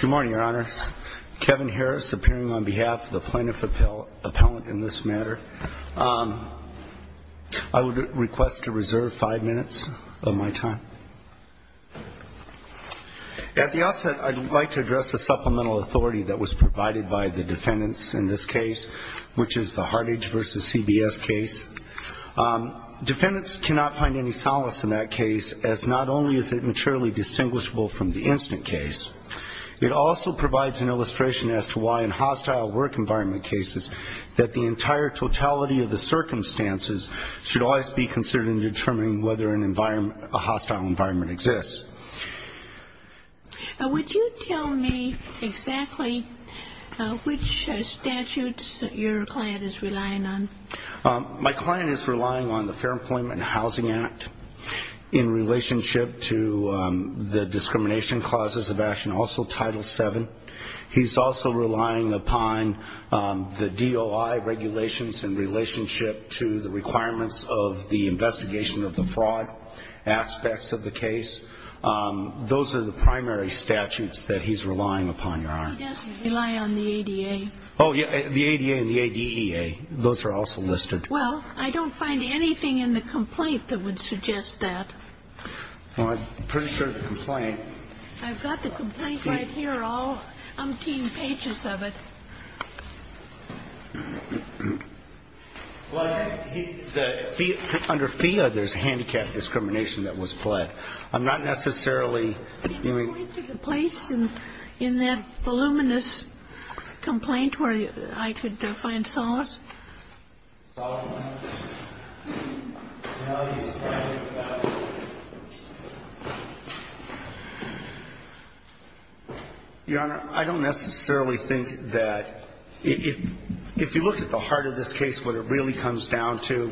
Good morning, Your Honor. Kevin Harris, appearing on behalf of the plaintiff appellant in this matter. I would request to reserve five minutes of my time. At the outset, I'd like to address the supplemental authority that was provided by the defendants in this case, which is the Hartage v. CBS case. Defendants cannot find any solace in that case, as not only is it materially distinguishable from the incident case, it also provides an illustration as to why in hostile work environment cases that the entire totality of the circumstances should always be considered in determining whether a hostile environment exists. Would you tell me exactly which statutes your client is relying on? My client is relying on the Fair Employment and Housing Act in relationship to the discrimination clauses of action, also Title VII. He's also relying upon the DOI regulations in relationship to the requirements of the investigation of the fraud aspects of the case. Those are the primary statutes that he's relying upon, Your Honor. He does rely on the ADA. Oh, yeah, the ADA and the ADEA, those are also listed. Well, I don't find anything in the complaint that would suggest that. Well, I'm pretty sure the complaint. I've got the complaint right here, all umpteen pages of it. Well, under FIA, there's handicapped discrimination that was pled. I'm not necessarily. Did you point to a place in that voluminous complaint where I could find solace? Solace in the totality of the circumstances? Your Honor, I don't necessarily think that. If you look at the heart of this case, what it really comes down to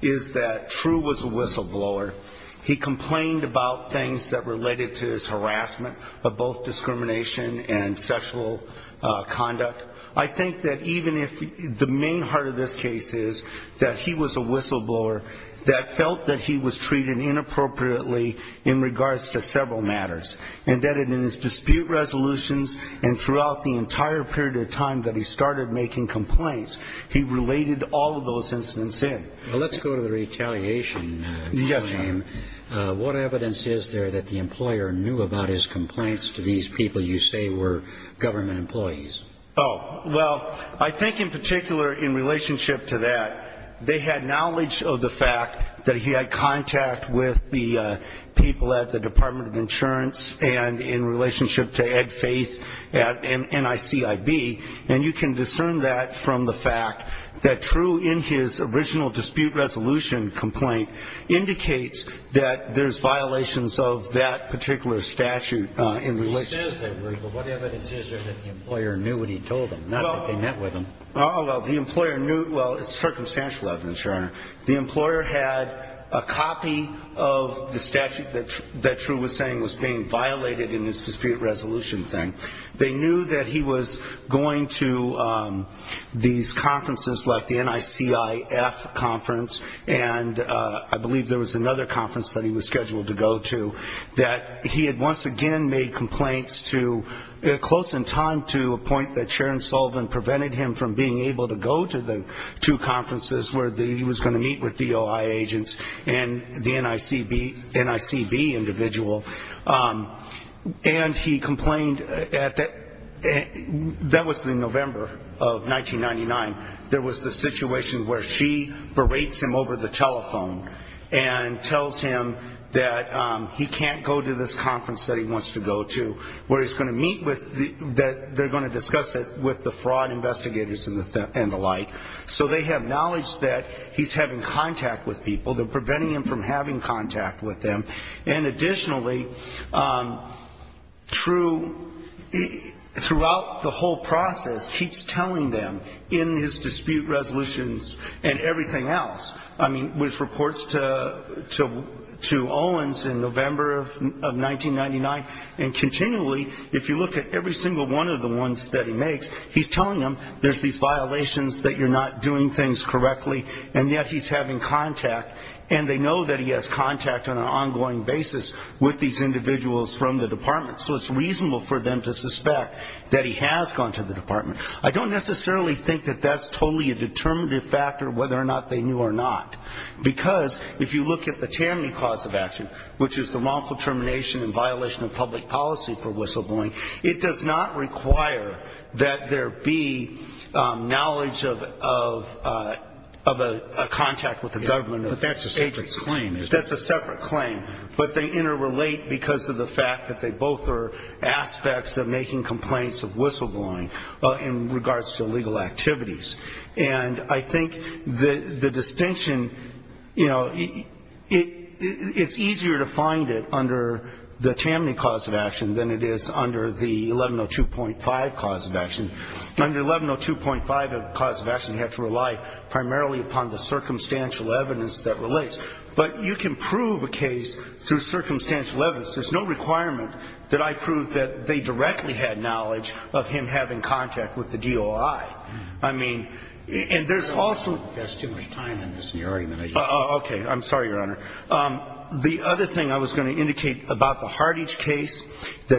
is that True was a whistleblower. He complained about things that related to his harassment of both discrimination and sexual conduct. I think that even if the main heart of this case is that he was a whistleblower that felt that he was trying to do something that was treated inappropriately in regards to several matters, and that in his dispute resolutions and throughout the entire period of time that he started making complaints, he related all of those incidents in. Well, let's go to the retaliation. Yes, Your Honor. What evidence is there that the employer knew about his complaints to these people you say were government employees? Oh, well, I think in particular in relationship to that, they had knowledge of the fact that he had contact with the people at the Department of Insurance and in relationship to Ed Faith at NICIB, and you can discern that from the fact that True in his original dispute resolution complaint indicates that there's violations of that particular statute in relation. What evidence is there that the employer knew what he told them, not that they met with him? Oh, well, the employer knew, well, it's circumstantial evidence, Your Honor. The employer had a copy of the statute that True was saying was being violated in his dispute resolution thing. They knew that he was going to these conferences like the NICIF conference, and I believe there was another conference that he was scheduled to go to, that he had once again made complaints to, close in time to a point that Sharon Sullivan prevented him from being able to go to the two conferences where he was going to meet with DOI agents and the NICB individual. And he complained, that was in November of 1999, there was the situation where she berates him over the telephone and tells him that he can't go to this conference that he wants to go to where he's going to meet with, they're going to discuss it with the fraud investigators and the like. So they have knowledge that he's having contact with people, they're preventing him from having contact with them. And additionally, True, throughout the whole process, keeps telling them in his dispute resolutions and everything else, I mean, which reports to Owens in November of 1999, and continually, if you look at every single one of the ones that he makes, he's telling them there's these violations, that you're not doing things correctly, and yet he's having contact, and they know that he has contact on an ongoing basis with these individuals from the department. So it's reasonable for them to suspect that he has gone to the department. I don't necessarily think that that's totally a determinative factor, whether or not they knew or not. Because if you look at the Tammany cause of action, which is the wrongful termination and violation of public policy for whistleblowing, it does not require that there be knowledge of a contact with the government. But that's a separate claim. That's a separate claim. But they interrelate because of the fact that they both are aspects of making complaints of whistleblowing in regards to legal activities. And I think the distinction, you know, it's easier to find it under the Tammany cause of action than it is under the 1102.5 cause of action. Under 1102.5 of the cause of action, you have to rely primarily upon the circumstantial evidence that relates. But you can prove a case through circumstantial evidence. There's no requirement that I prove that they directly had knowledge of him having contact with the DOI. I mean, and there's also ‑‑ that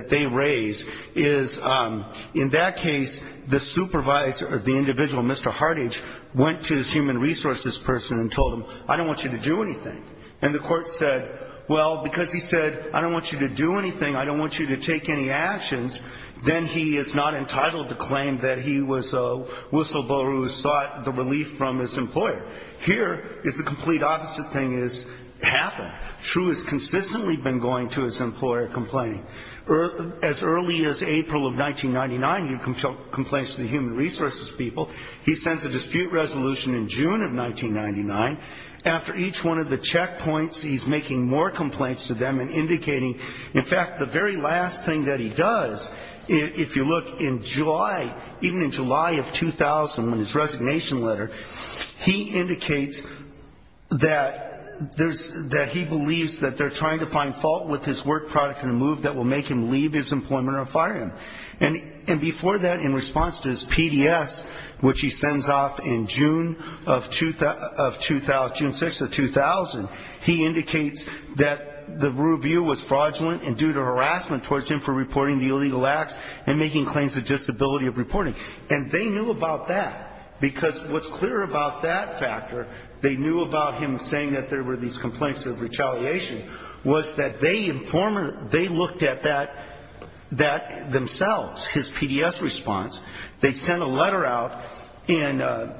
they raise is, in that case, the supervisor, the individual, Mr. Hartage, went to his human resources person and told him, I don't want you to do anything. And the court said, well, because he said, I don't want you to do anything, I don't want you to take any actions, then he is not entitled to claim that he was a whistleblower who sought the relief from his employer. Here is the complete opposite thing has happened. True has consistently been going to his employer complaining. As early as April of 1999, he complains to the human resources people. He sends a dispute resolution in June of 1999. After each one of the checkpoints, he's making more complaints to them and indicating, in fact, the very last thing that he does, if you look, in July, even in July of 2000, in his resignation letter, he indicates that he believes that they're trying to find fault with his work product in a move that will make him leave his employment or fire him. And before that, in response to his PDS, which he sends off in June of 2000, June 6th of 2000, he indicates that the review was fraudulent and due to harassment towards him for reporting the illegal activity. And they knew about that. Because what's clear about that factor, they knew about him saying that there were these complaints of retaliation, was that they looked at that themselves, his PDS response. They sent a letter out, and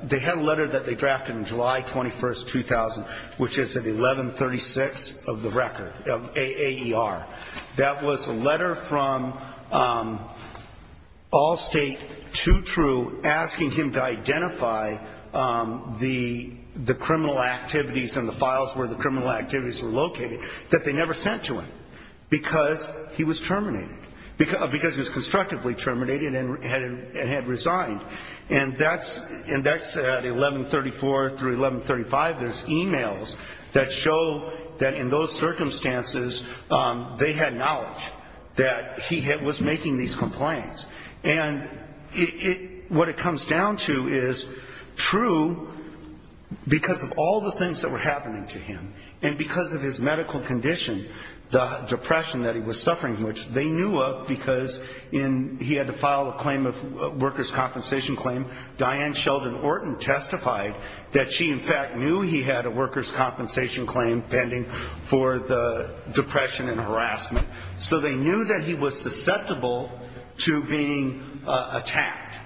they had a letter that they drafted in July 21st, 2000, which is at 1136 of the record, AAR. That was a letter from Allstate to True asking him to identify the criminal activities and the files where the criminal activities were located that they never sent to him because he was terminated, because he was constructively terminated and had resigned. And that's at 1134 through 1135. And they had these e-mails that show that in those circumstances, they had knowledge that he was making these complaints. And what it comes down to is True, because of all the things that were happening to him, and because of his medical condition, the depression that he was suffering from, which they knew of because he had to file a claim of workers' compensation claim, Diane Sheldon Orton testified that she, in fact, knew he had a workers' compensation claim pending for the depression and harassment. So they knew that he was susceptible to being attacked.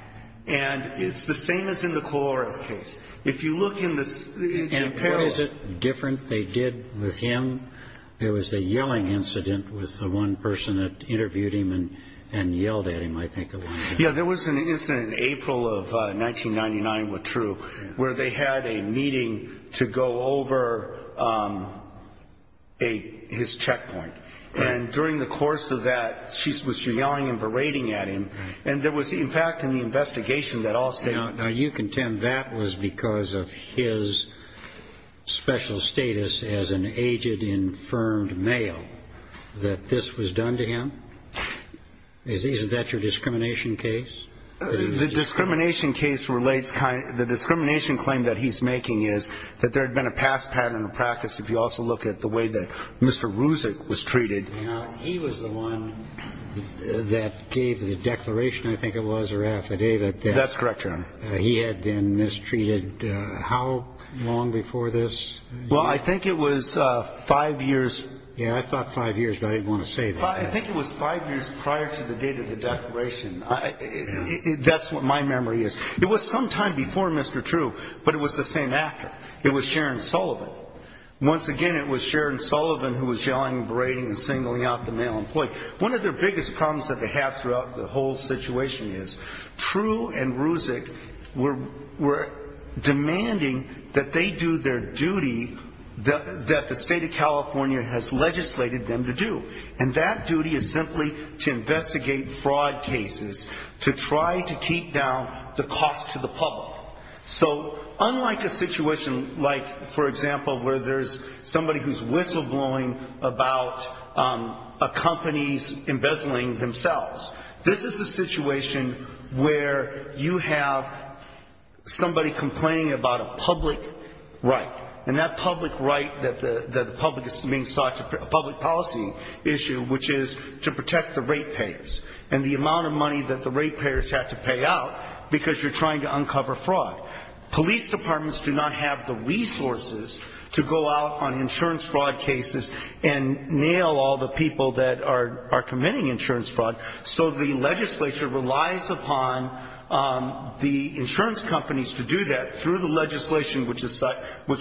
And it's the same as in the Colores case. If you look in the apparel... And what is it different they did with him? There was a yelling incident with the one person that interviewed him and yelled at him, I think. Yeah, there was an incident in April of 1999 with True where they had a meeting to go over his checkpoint. And during the course of that, she was yelling and berating at him. And there was, in fact, in the investigation that Allstate... And did Allstate say to the confirmed male that this was done to him? Isn't that your discrimination case? The discrimination claim that he's making is that there had been a past pattern of practice. If you also look at the way that Mr. Ruzic was treated... He was the one that gave the declaration, I think it was, or affidavit... Well, I think it was five years... Yeah, I thought five years, but I didn't want to say that. I think it was five years prior to the date of the declaration. That's what my memory is. It was sometime before Mr. True, but it was the same actor. It was Sharon Sullivan. Once again, it was Sharon Sullivan who was yelling and berating and singling out the male employee. One of their biggest problems that they have throughout the whole situation is, True and Ruzic were demanding that they do their duty that the state of California has legislated them to do. And that duty is simply to investigate fraud cases, to try to keep down the cost to the public. So unlike a situation like, for example, where there's somebody who's whistleblowing about a company's embezzling themselves, this is a situation where you have somebody complaining about a public right. And that public right that the public is being sought to, a public policy issue, which is to protect the ratepayers, and the amount of money that the ratepayers have to pay out because you're trying to uncover fraud. Police departments do not have the resources to go out on insurance fraud cases and nail all the people that are committing insurance fraud. So the legislature relies upon the insurance companies to do that through the legislation which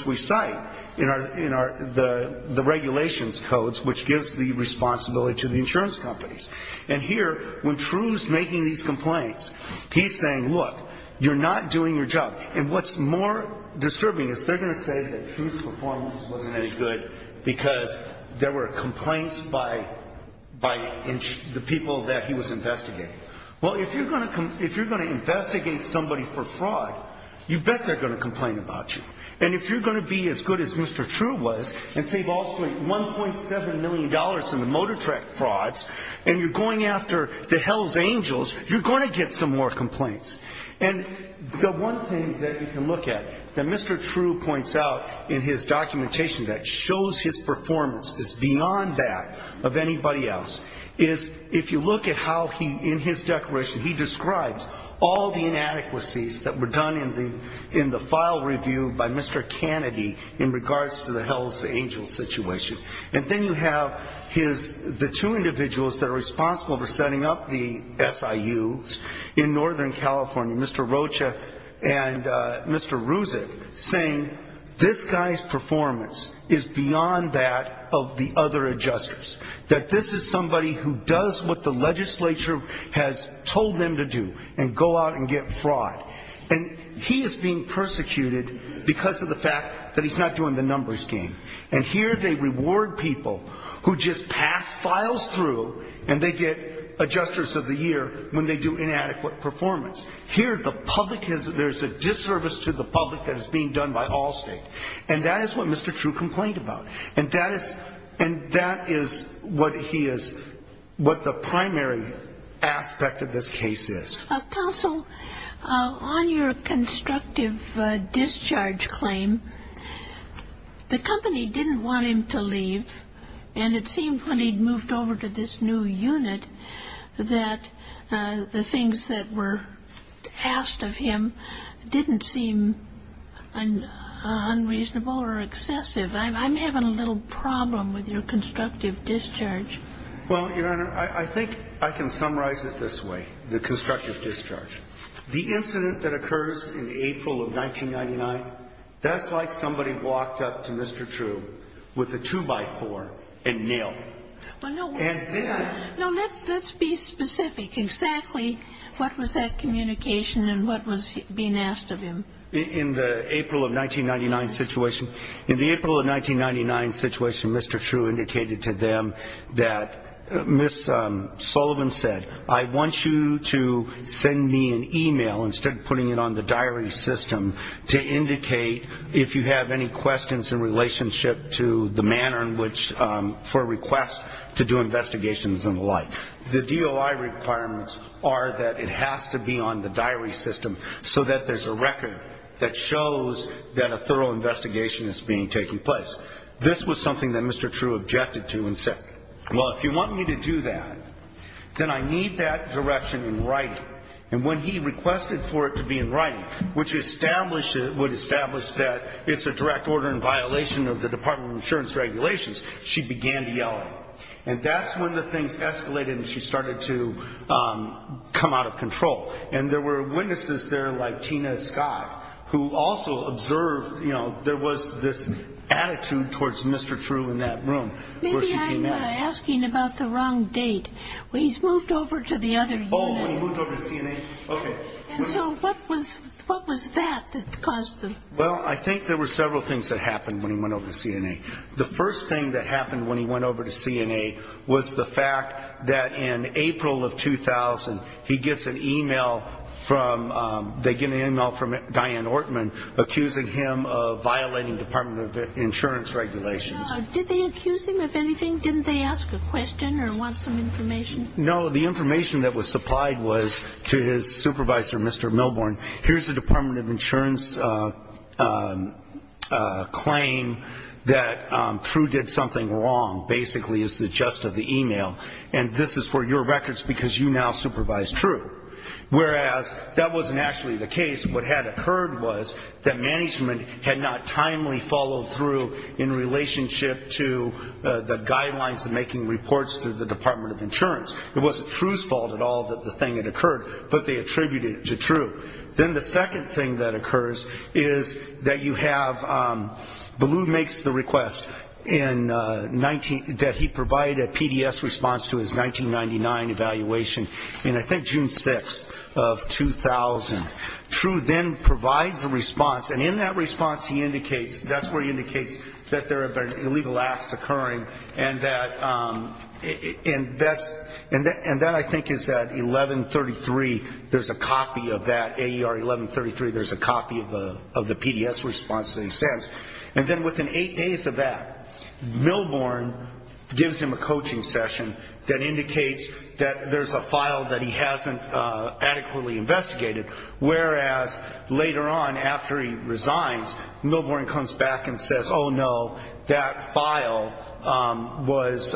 we cite in the regulations codes, which gives the responsibility to the insurance companies. And here, when True's making these complaints, he's saying, look, you're not doing your job. And what's more disturbing is they're going to say that True's performance wasn't any good because there were complaints by the people that he was investigating. Well, if you're going to investigate somebody for fraud, you bet they're going to complain about you. And if you're going to be as good as Mr. True was and save all $1.7 million in the motor track frauds, and you're going after the hell's angels, you're going to get some more complaints. And the one thing that you can look at that Mr. True points out in his documentation that shows his performance is beyond that of anybody else, is if you look at how he, in his declaration, he describes all the inadequacies that were done in the file review by Mr. Kennedy in regards to the hell's angels situation. And then you have his, the two individuals that are responsible for setting up the SIU in Northern California, Mr. Rocha and Mr. Ruzic, saying this guy's performance is beyond that of the other adjusters, that this is somebody who does what the legislature has told them to do and go out and get fraud. And he is being persecuted because of the fact that he's not doing the numbers game. And here they reward people who just pass files through and they get adjusters of the year when they do inadequate performance. Here the public is, there's a disservice to the public that is being done by Allstate. And that is what Mr. True complained about. And that is what he is, what the primary aspect of this case is. Counsel, on your constructive discharge claim, the company didn't want him to leave. And it seemed when he moved over to this new unit that the things that were asked of him didn't seem unreasonable or excessive. I'm having a little problem with your constructive discharge. Well, Your Honor, I think I can summarize it this way, the constructive discharge. The incident that occurs in April of 1999, that's like somebody walked up to Mr. True with a two-by-four and nailed him. No, let's be specific exactly what was that communication and what was being asked of him. In the April of 1999 situation, Mr. True indicated to them that Ms. Sullivan said, I want you to send me an e-mail, instead of putting it on the diary system, to indicate if you have any questions in relationship to the manner in which, for a request to do investigations and the like. The DOI requirements are that it has to be on the diary system so that there's a record that shows that a thorough investigation is being taken place. This was something that Mr. True objected to and said, well, if you want me to do that, then I need that direction in writing. And when he requested for it to be in writing, which would establish that it's a direct order in violation of the Department of Insurance regulations, she began to yell at him. And that's when the things escalated and she started to come out of control. And there were witnesses there, like Tina Scott, who also observed, you know, there was this attitude towards Mr. True in that room where she came out. Maybe I'm asking about the wrong date. He's moved over to the other unit. And so what was that that caused the? Well, I think there were several things that happened when he went over to CNA. The first thing that happened when he went over to CNA was the fact that in April of 2000, he gets an e-mail from Diane Ortman accusing him of violating Department of Insurance regulations. Did they accuse him of anything? Didn't they ask a question or want some information? No, the information that was supplied was to his supervisor, Mr. Milborn, here's the Department of Insurance claim that True did something wrong, basically is the gist of the e-mail, and this is for your records because you now supervise True. Whereas that wasn't actually the case. What had occurred was that management had not timely followed through in relationship to the guidelines and making reports to the Department of Insurance. It wasn't True's fault at all that the thing had occurred, but they attributed it to True. Then the second thing that occurs is that you have Ballew makes the request that he provide a PDS response to his 1999 evaluation in I think June 6th of 2000. True then provides a response, and in that response he indicates, that there have been illegal acts occurring, and that's, and that I think is at 1133, there's a copy of that, AER 1133, there's a copy of the PDS response that he sends. And then within eight days of that, Milborn gives him a coaching session that indicates that there's a file that he hasn't adequately investigated. Whereas later on, after he resigns, Milborn comes back and says, oh, no, that file was,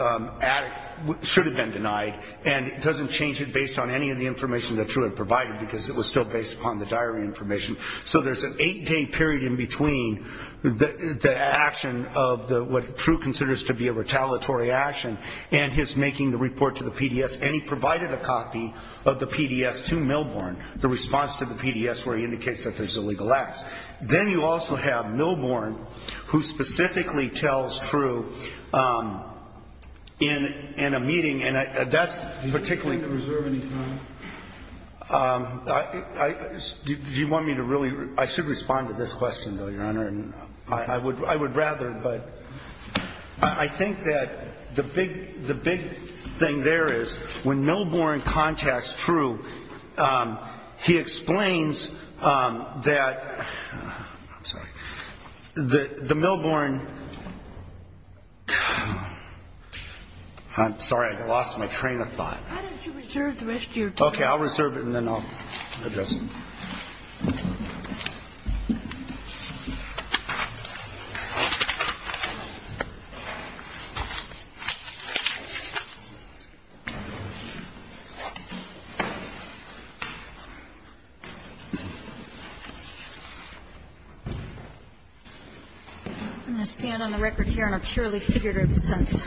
should have been denied, and doesn't change it based on any of the information that True had provided, because it was still based upon the diary information. So there's an eight-day period in between the action of what True considers to be a retaliatory action and his making the report to the PDS, and he provided a copy of the PDS to Milborn, the response to the PDS where he indicates that there's illegal acts. Then you also have Milborn, who specifically tells True in a meeting, and that's particularly. Do you want me to really, I should respond to this question, though, Your Honor, and I would rather, but I think that the big, the big thing there is when Milborn contacts True, he explains that, I'm sorry, that the Milborn. I'm sorry, I lost my train of thought. Why don't you reserve the rest of your time. Okay, I'll reserve it and then I'll address it. I'm going to stand on the record here in a purely figurative sense.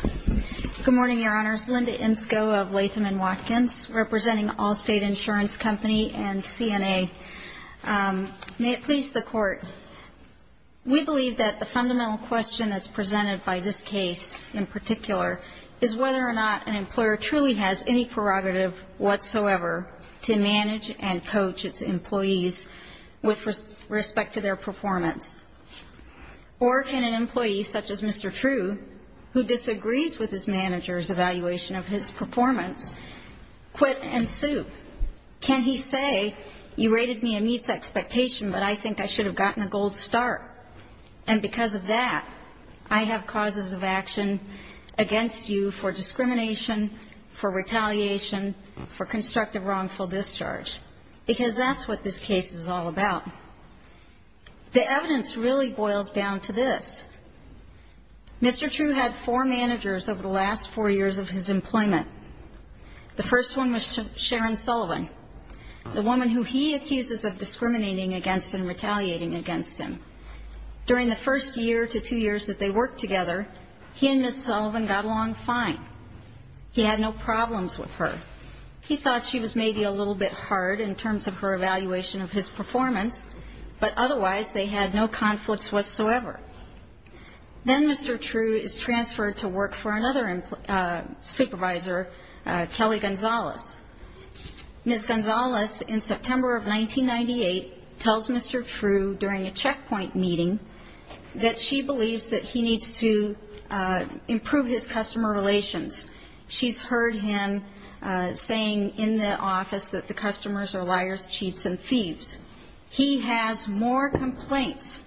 Good morning, Your Honors. Linda Insko of Latham & Watkins, representing Allstate Insurance Company and CNA. May it please the Court, we believe that the fundamental question that's presented by this case in particular is whether or not an employer truly has any prerogative whatsoever to manage and coach its employees with respect to their performance, or can an employee such as Mr. True, who disagrees with his manager's evaluation of his performance, quit and sue? Can he say, you rated me a meets expectation, but I think I should have gotten a gold star, and because of that, I have causes of action against you for discrimination, for retaliation, for constructive wrongful discharge? Because that's what this case is all about. The evidence really boils down to this. Mr. True had four managers over the last four years of his employment. The first one was Sharon Sullivan, the woman who he accuses of discriminating against and retaliating against him. During the first year to two years that they worked together, he and Ms. Sullivan got along fine. He had no problems with her. He thought she was maybe a little bit hard in terms of her evaluation of his performance, but otherwise they had no conflicts whatsoever. Then Mr. True is transferred to work for another supervisor, Kelly Gonzalez. Ms. Gonzalez, in September of 1998, tells Mr. True during a checkpoint meeting that she believes that he needs to improve his customer relations. She's heard him saying in the office that the customers are liars, cheats, and thieves. He has more complaints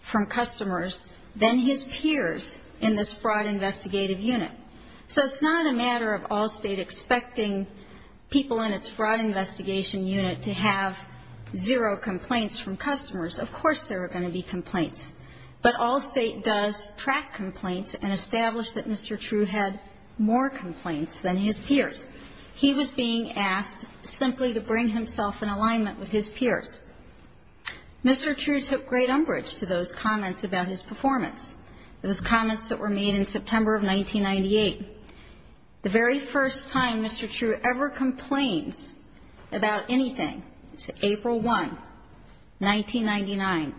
from customers than his peers in this Fraud Investigative Unit. So it's not a matter of Allstate expecting people in its Fraud Investigation Unit to have zero complaints from customers. Of course there are going to be complaints, but Allstate does track complaints and establish that Mr. True had more complaints than his peers. He was being asked simply to bring himself in alignment with his peers. Mr. True took great umbrage to those comments about his performance, those comments that were made in September of 1998. The very first time Mr. True ever complains about anything is April 1, 1999.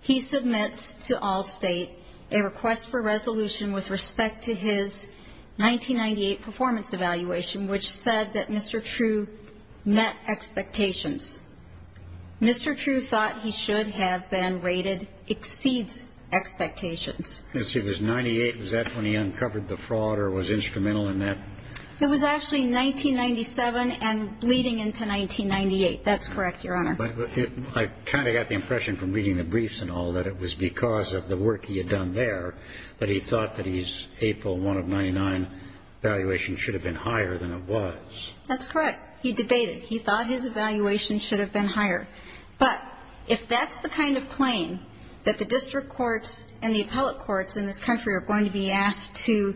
He submits to Allstate a request for resolution with respect to his 1998 performance evaluation, which said that Mr. True met expectations. Mr. True thought he should have been rated exceeds expectations. Yes, he was 98. Was that when he uncovered the fraud or was instrumental in that? It was actually 1997 and leading into 1998. That's correct, Your Honor. I kind of got the impression from reading the briefs and all that it was because of the work he had done there that he thought that his April 1 of 1999 evaluation should have been higher than it was. That's correct. He debated. He thought his evaluation should have been higher. But if that's the kind of claim that the district courts and the appellate courts in this country are going to be asked to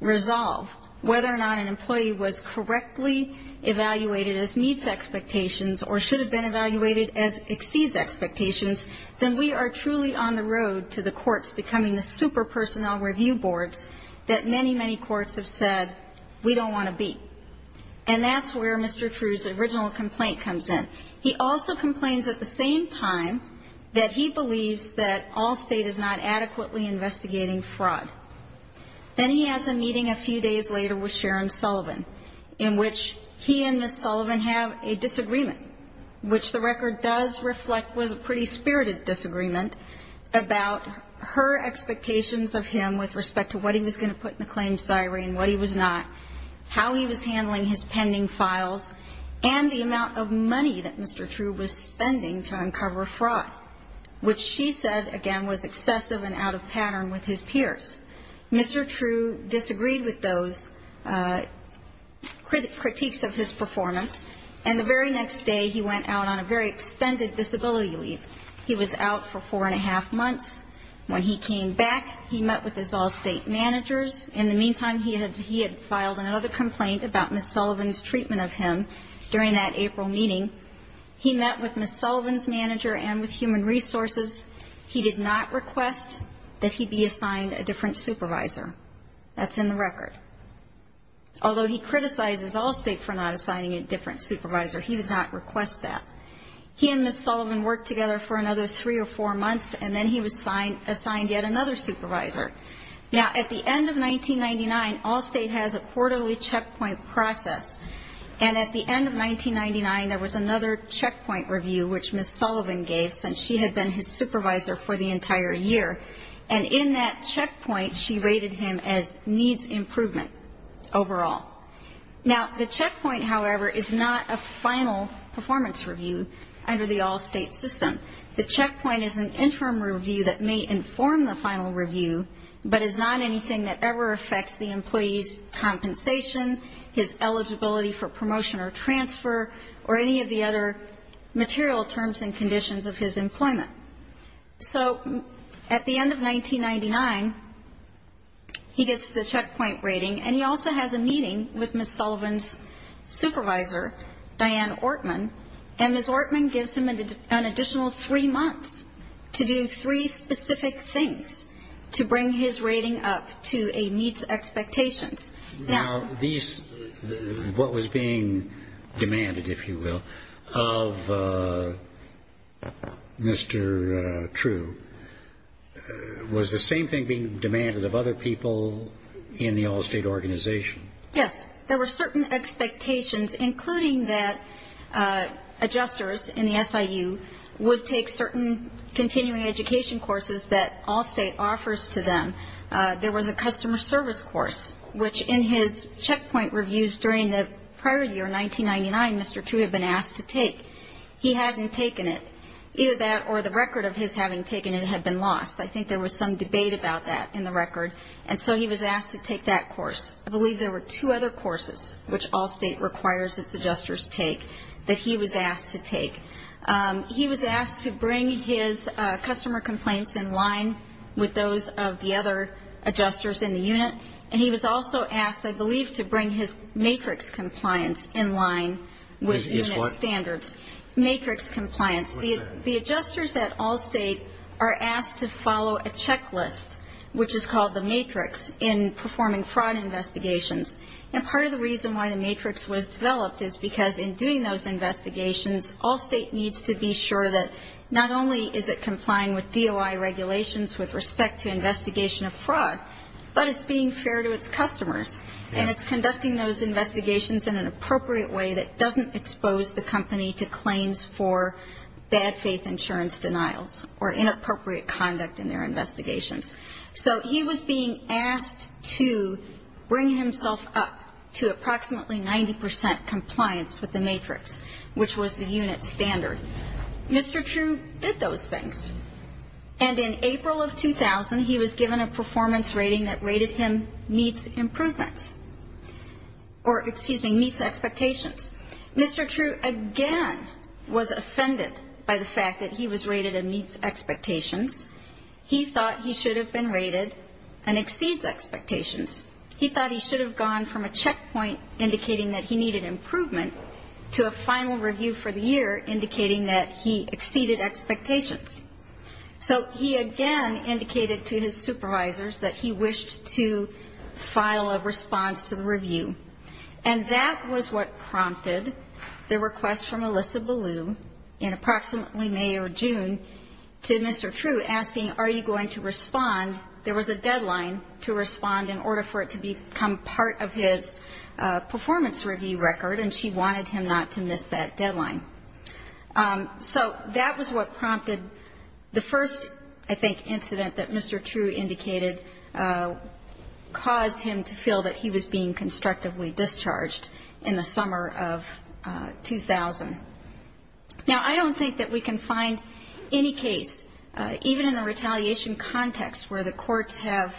resolve whether or not an employee was correctly evaluated as meets expectations or should have been evaluated as exceeds expectations, then we are truly on the road to the courts becoming the super personnel review boards that many, many courts have said we don't want to be. And that's where Mr. True's original complaint comes in. He also complains at the same time that he believes that Allstate is not adequately investigating fraud. Then he has a meeting a few days later with Sharon Sullivan in which he and Ms. Sullivan have a disagreement, which the record does reflect was a pretty spirited disagreement about her expectations of him with respect to what he was going to put in the claims diary and what he was not, how he was handling his pending files, and the amount of money that Mr. True was spending to uncover fraud, which she said, again, was excessive and out of pattern with his peers. Mr. True disagreed with those critiques of his performance. And the very next day he went out on a very extended disability leave. He was out for four and a half months. When he came back, he met with his Allstate managers. In the meantime, he had filed another complaint about Ms. Sullivan's treatment of him during that April meeting. He met with Ms. Sullivan's manager and with Human Resources. He did not request that he be assigned a different supervisor. That's in the record. Although he criticized Allstate for not assigning a different supervisor, he did not request that. He and Ms. Sullivan worked together for another three or four months, and then he was assigned yet another supervisor. Now, at the end of 1999, Allstate has a quarterly checkpoint process. And at the end of 1999, there was another checkpoint review which Ms. Sullivan gave since she had been his supervisor for the entire year. And in that checkpoint, she rated him as needs improvement overall. Now, the checkpoint, however, is not a final performance review under the Allstate system. The checkpoint is an interim review that may inform the final review, but is not anything that ever affects the employee's compensation, his eligibility for promotion or transfer, or any of the other material terms and conditions of his employment. So at the end of 1999, he gets the checkpoint rating, and he also has a meeting with Ms. Sullivan's supervisor, Diane Ortman. And Ms. Ortman gives him an additional three months to do three specific things to bring his rating up to a needs expectations. Now, these what was being demanded, if you will, of Mr. True, was the same thing being demanded of other people in the Allstate organization? Yes. There were certain expectations, including that adjusters in the SIU would take certain continuing education courses that Allstate offers to them. There was a customer service course, which in his checkpoint reviews during the prior year, 1999, Mr. True had been asked to take. He hadn't taken it. Either that or the record of his having taken it had been lost. I think there was some debate about that in the record. And so he was asked to take that course. I believe there were two other courses which Allstate requires its adjusters take that he was asked to take. He was asked to bring his customer complaints in line with those of the other adjusters in the unit. And he was also asked, I believe, to bring his matrix compliance in line with unit standards. Matrix compliance. The adjusters at Allstate are asked to follow a checklist, which is called the matrix, in performing fraud investigations. And part of the reason why the matrix was developed is because in doing those investigations, Allstate needs to be sure that not only is it complying with DOI regulations with respect to investigation of fraud, but it's being fair to its customers. And it's conducting those investigations in an appropriate way that doesn't expose the company to claims for bad faith insurance denials or inappropriate conduct in their investigations. So he was being asked to bring himself up to approximately 90 percent compliance with the matrix, which was the unit standard. Mr. True did those things. And in April of 2000, he was given a performance rating that rated him meets improvements or, excuse me, meets expectations. Mr. True again was offended by the fact that he was rated a meets expectations. He thought he should have been rated an exceeds expectations. He thought he should have gone from a checkpoint indicating that he needed improvement to a final review for the year indicating that he exceeded expectations. So he again indicated to his supervisors that he wished to file a response to the review. And that was what prompted the request from Alyssa Ballew in approximately May or June to Mr. True asking, are you going to respond? There was a deadline to respond in order for it to become part of his performance review record, and she wanted him not to miss that deadline. So that was what prompted the first, I think, incident that Mr. True indicated caused him to feel that he was being constructively discharged in the summer of 2000. Now, I don't think that we can find any case, even in a retaliation context, where the courts have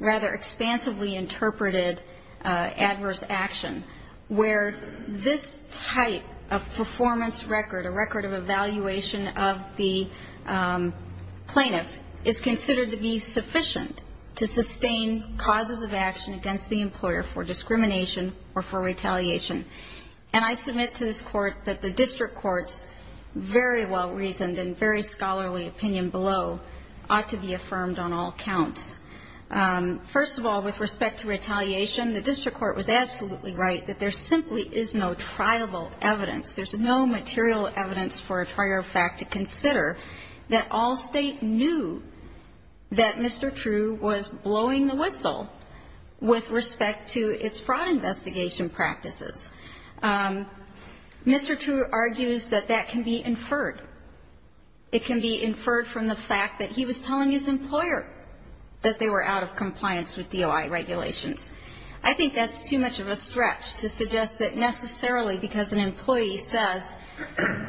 rather expansively interpreted adverse action, where this type of performance record, a record of evaluation of the plaintiff, is considered to be sufficient to sustain causes of action against the employer for discrimination or for injury. I think that the district court's very well-reasoned and very scholarly opinion below ought to be affirmed on all counts. First of all, with respect to retaliation, the district court was absolutely right that there simply is no triable evidence. There's no material evidence for a trier of fact to consider that all State knew that Mr. True was blowing the whistle with respect to its fraud investigation practices. Mr. True argues that that can be inferred. It can be inferred from the fact that he was telling his employer that they were out of compliance with DOI regulations. I think that's too much of a stretch to suggest that necessarily because an employee says,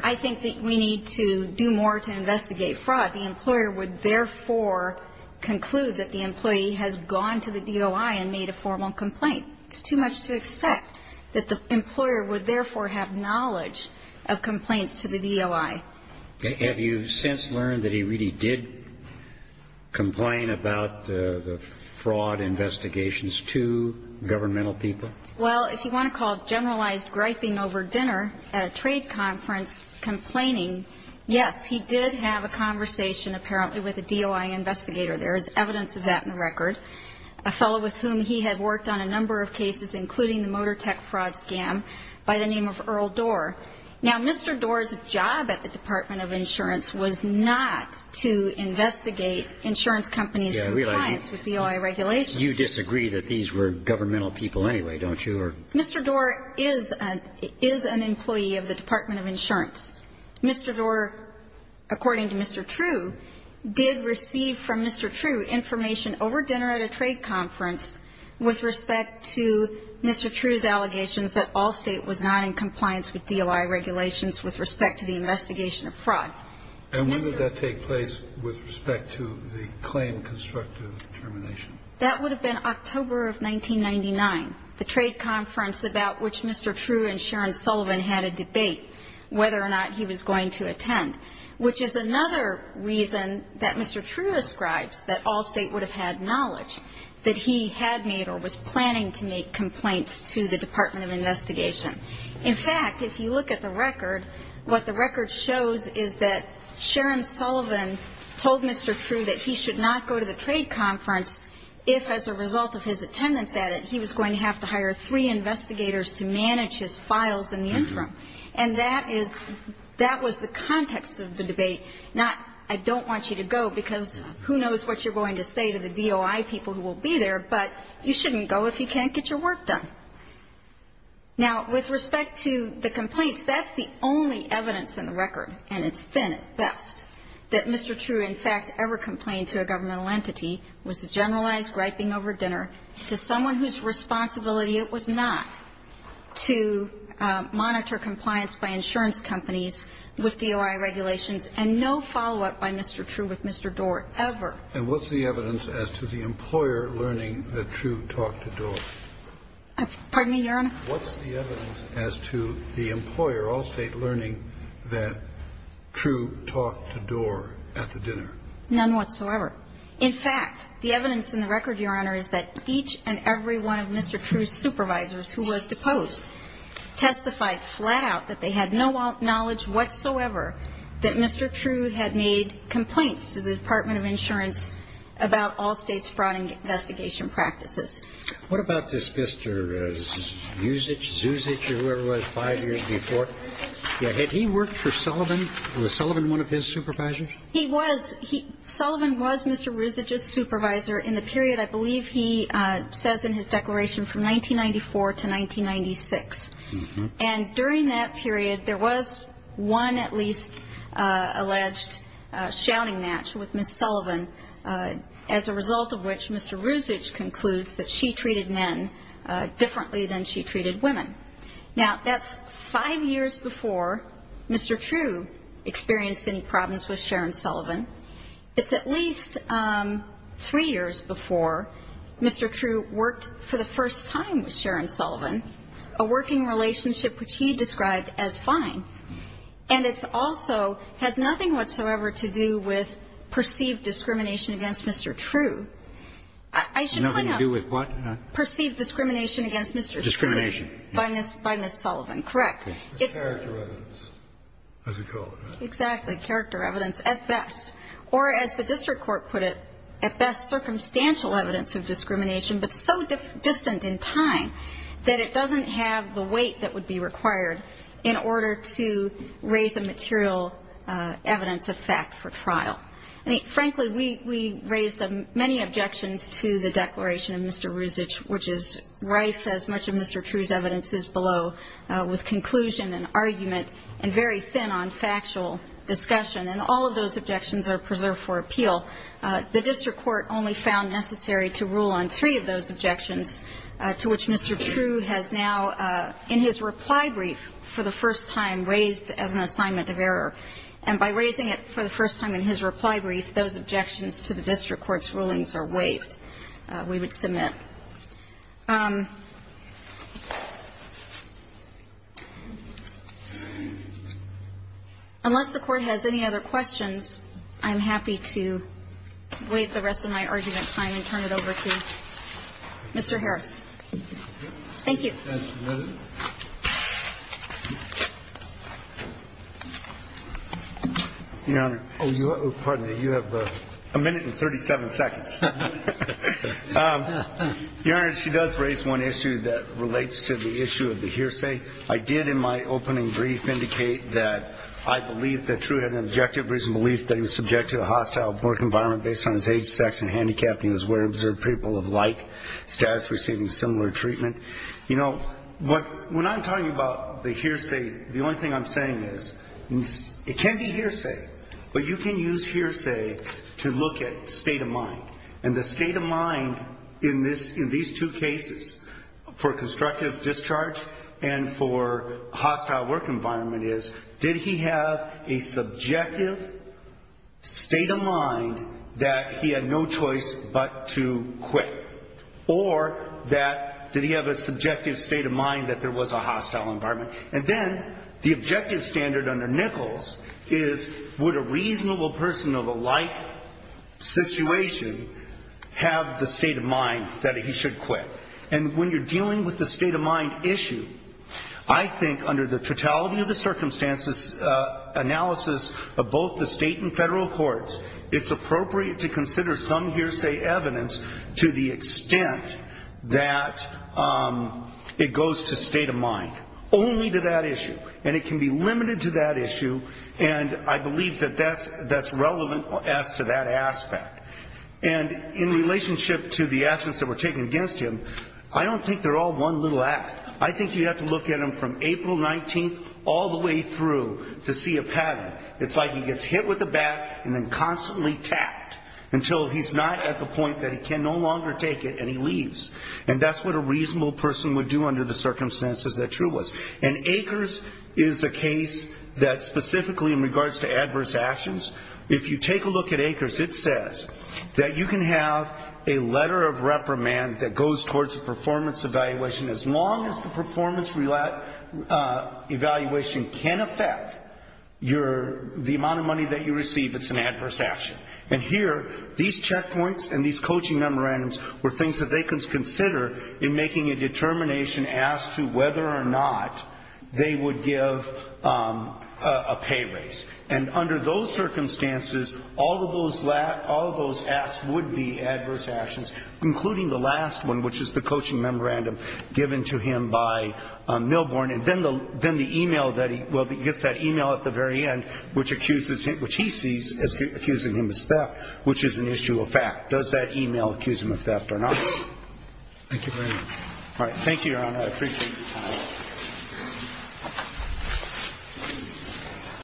I think that we need to do more to investigate fraud, the employer would therefore conclude that the employee has gone to the DOI and made a formal complaint. It's too much to expect that the employer would therefore have knowledge of complaints to the DOI. Have you since learned that he really did complain about the fraud investigations to governmental people? Well, if you want to call generalized griping over dinner at a trade conference complaining, yes, he did have a conversation apparently with a DOI investigator. There is evidence of that in the record. A fellow with whom he had worked on a number of cases, including the Motor Tech Fraud Scam by the name of Earl Dorr. Now, Mr. Dorr's job at the Department of Insurance was not to investigate insurance companies' compliance with DOI regulations. You disagree that these were governmental people anyway, don't you? Mr. Dorr is an employee of the Department of Insurance. Mr. Dorr, according to Mr. True, did receive from Mr. True information over dinner at a trade conference with respect to Mr. True's allegations that Allstate was not in compliance with DOI regulations with respect to the investigation of fraud. And when did that take place with respect to the claim constructive termination? That would have been October of 1999, the trade conference about which Mr. True and Sharon Sullivan had a debate whether or not he was going to attend, which is another reason that Mr. True ascribes that Allstate would have had knowledge, that he had made or was planning to make complaints to the Department of Investigation. In fact, if you look at the record, what the record shows is that Sharon Sullivan told Mr. True that he should not go to the trade conference if, as a result of his attendance at it, he was going to have to hire three investigators to manage his files in the interim. And that is the context of the debate, not I don't want you to go because who knows what you're going to say to the DOI people who will be there, but you shouldn't go if you can't get your work done. Now, with respect to the complaints, that's the only evidence in the record, and it's been at best, that Mr. True in fact ever complained to a governmental entity, was the generalized griping over dinner to someone whose responsibility it was not to monitor compliance by insurance companies with DOI regulations and no follow-up by Mr. True with Mr. Doar ever. And what's the evidence as to the employer learning that True talked to Doar? Pardon me, Your Honor? What's the evidence as to the employer, Allstate, learning that True talked to Doar at the dinner? None whatsoever. In fact, the evidence in the record, Your Honor, is that each and every one of Mr. True's supervisors who was deposed testified flat out that they had no knowledge whatsoever that Mr. True had made complaints to the Department of Insurance about Allstate's fraud investigation practices. What about this Mr. Zuzich or whoever it was, five years before? Had he worked for Sullivan? Was Sullivan one of his supervisors? He was. Sullivan was Mr. Zuzich's supervisor in the period, I believe he says in his period, there was one at least alleged shouting match with Ms. Sullivan, as a result of which Mr. Zuzich concludes that she treated men differently than she treated women. Now, that's five years before Mr. True experienced any problems with Sharon Sullivan. It's at least three years before Mr. True worked for the first time with And it's also has nothing whatsoever to do with perceived discrimination against Mr. True. I should point out. Nothing to do with what? Perceived discrimination against Mr. True. Discrimination. By Ms. Sullivan, correct. Character evidence, as we call it. Exactly. Character evidence, at best. Or as the district court put it, at best, circumstantial evidence of discrimination, but so distant in time that it doesn't have the weight that would be required in order to raise a material evidence of fact for trial. I mean, frankly, we raised many objections to the declaration of Mr. Zuzich, which is rife, as much as Mr. True's evidence is below, with conclusion and argument and very thin on factual discussion. And all of those objections are preserved for appeal. The district court only found necessary to rule on three of those objections, to which Mr. True has now, in his reply brief for the first time, raised as an assignment of error. And by raising it for the first time in his reply brief, those objections to the district court's rulings are waived, we would submit. Unless the Court has any other questions, I'm happy to waive the rest of my argument time and turn it over to Mr. Harris. Thank you. Your Honor. Oh, pardon me. You have a minute and 37 seconds. Your Honor, she does raise one issue that relates to the issue of the hearsay. I did in my opening brief indicate that I believe that True had an objective reasoned belief that he was subject to a hostile work environment based on his age, sex, and handicap, and he was aware of observed people of like status receiving similar treatment. You know, when I'm talking about the hearsay, the only thing I'm saying is it can be hearsay, but you can use hearsay to look at state of mind. And the state of mind in these two cases, for constructive discharge and for hostile work environment, is did he have a subjective state of mind that he had no choice but to quit, or that did he have a subjective state of mind that there was a hostile environment? And then the objective standard under Nichols is would a reasonable person of a like situation have the state of mind that he should quit? And when you're dealing with this analysis of both the state and federal courts, it's appropriate to consider some hearsay evidence to the extent that it goes to state of mind, only to that issue. And it can be limited to that issue, and I believe that that's relevant as to that aspect. And in relationship to the actions that were taken against him, I don't think they're all one little act. I think you have to look at them from April 19th all the way through to see a pattern. It's like he gets hit with a bat and then constantly tapped until he's not at the point that he can no longer take it and he leaves. And that's what a reasonable person would do under the circumstances that true was. And Akers is a case that specifically in regards to adverse actions, if you take a look at Akers, it says that you can have a letter of reprimand that goes towards the performance evaluation as long as the performance evaluation can affect your, the amount of money that you receive, it's an adverse action. And here, these checkpoints and these coaching memorandums were things that they could consider in making a determination as to whether or not they would give a pay raise. And under those circumstances, all of those acts would be adverse actions, including the last one, which is the coaching memorandum given to him by Milborn. And then the e-mail that he, well, he gets that e-mail at the very end which accuses him, which he sees as accusing him of theft, which is an issue of fact. Does that e-mail accuse him of theft or not? Thank you very much. All right. Thank you, Your Honor. I appreciate your time.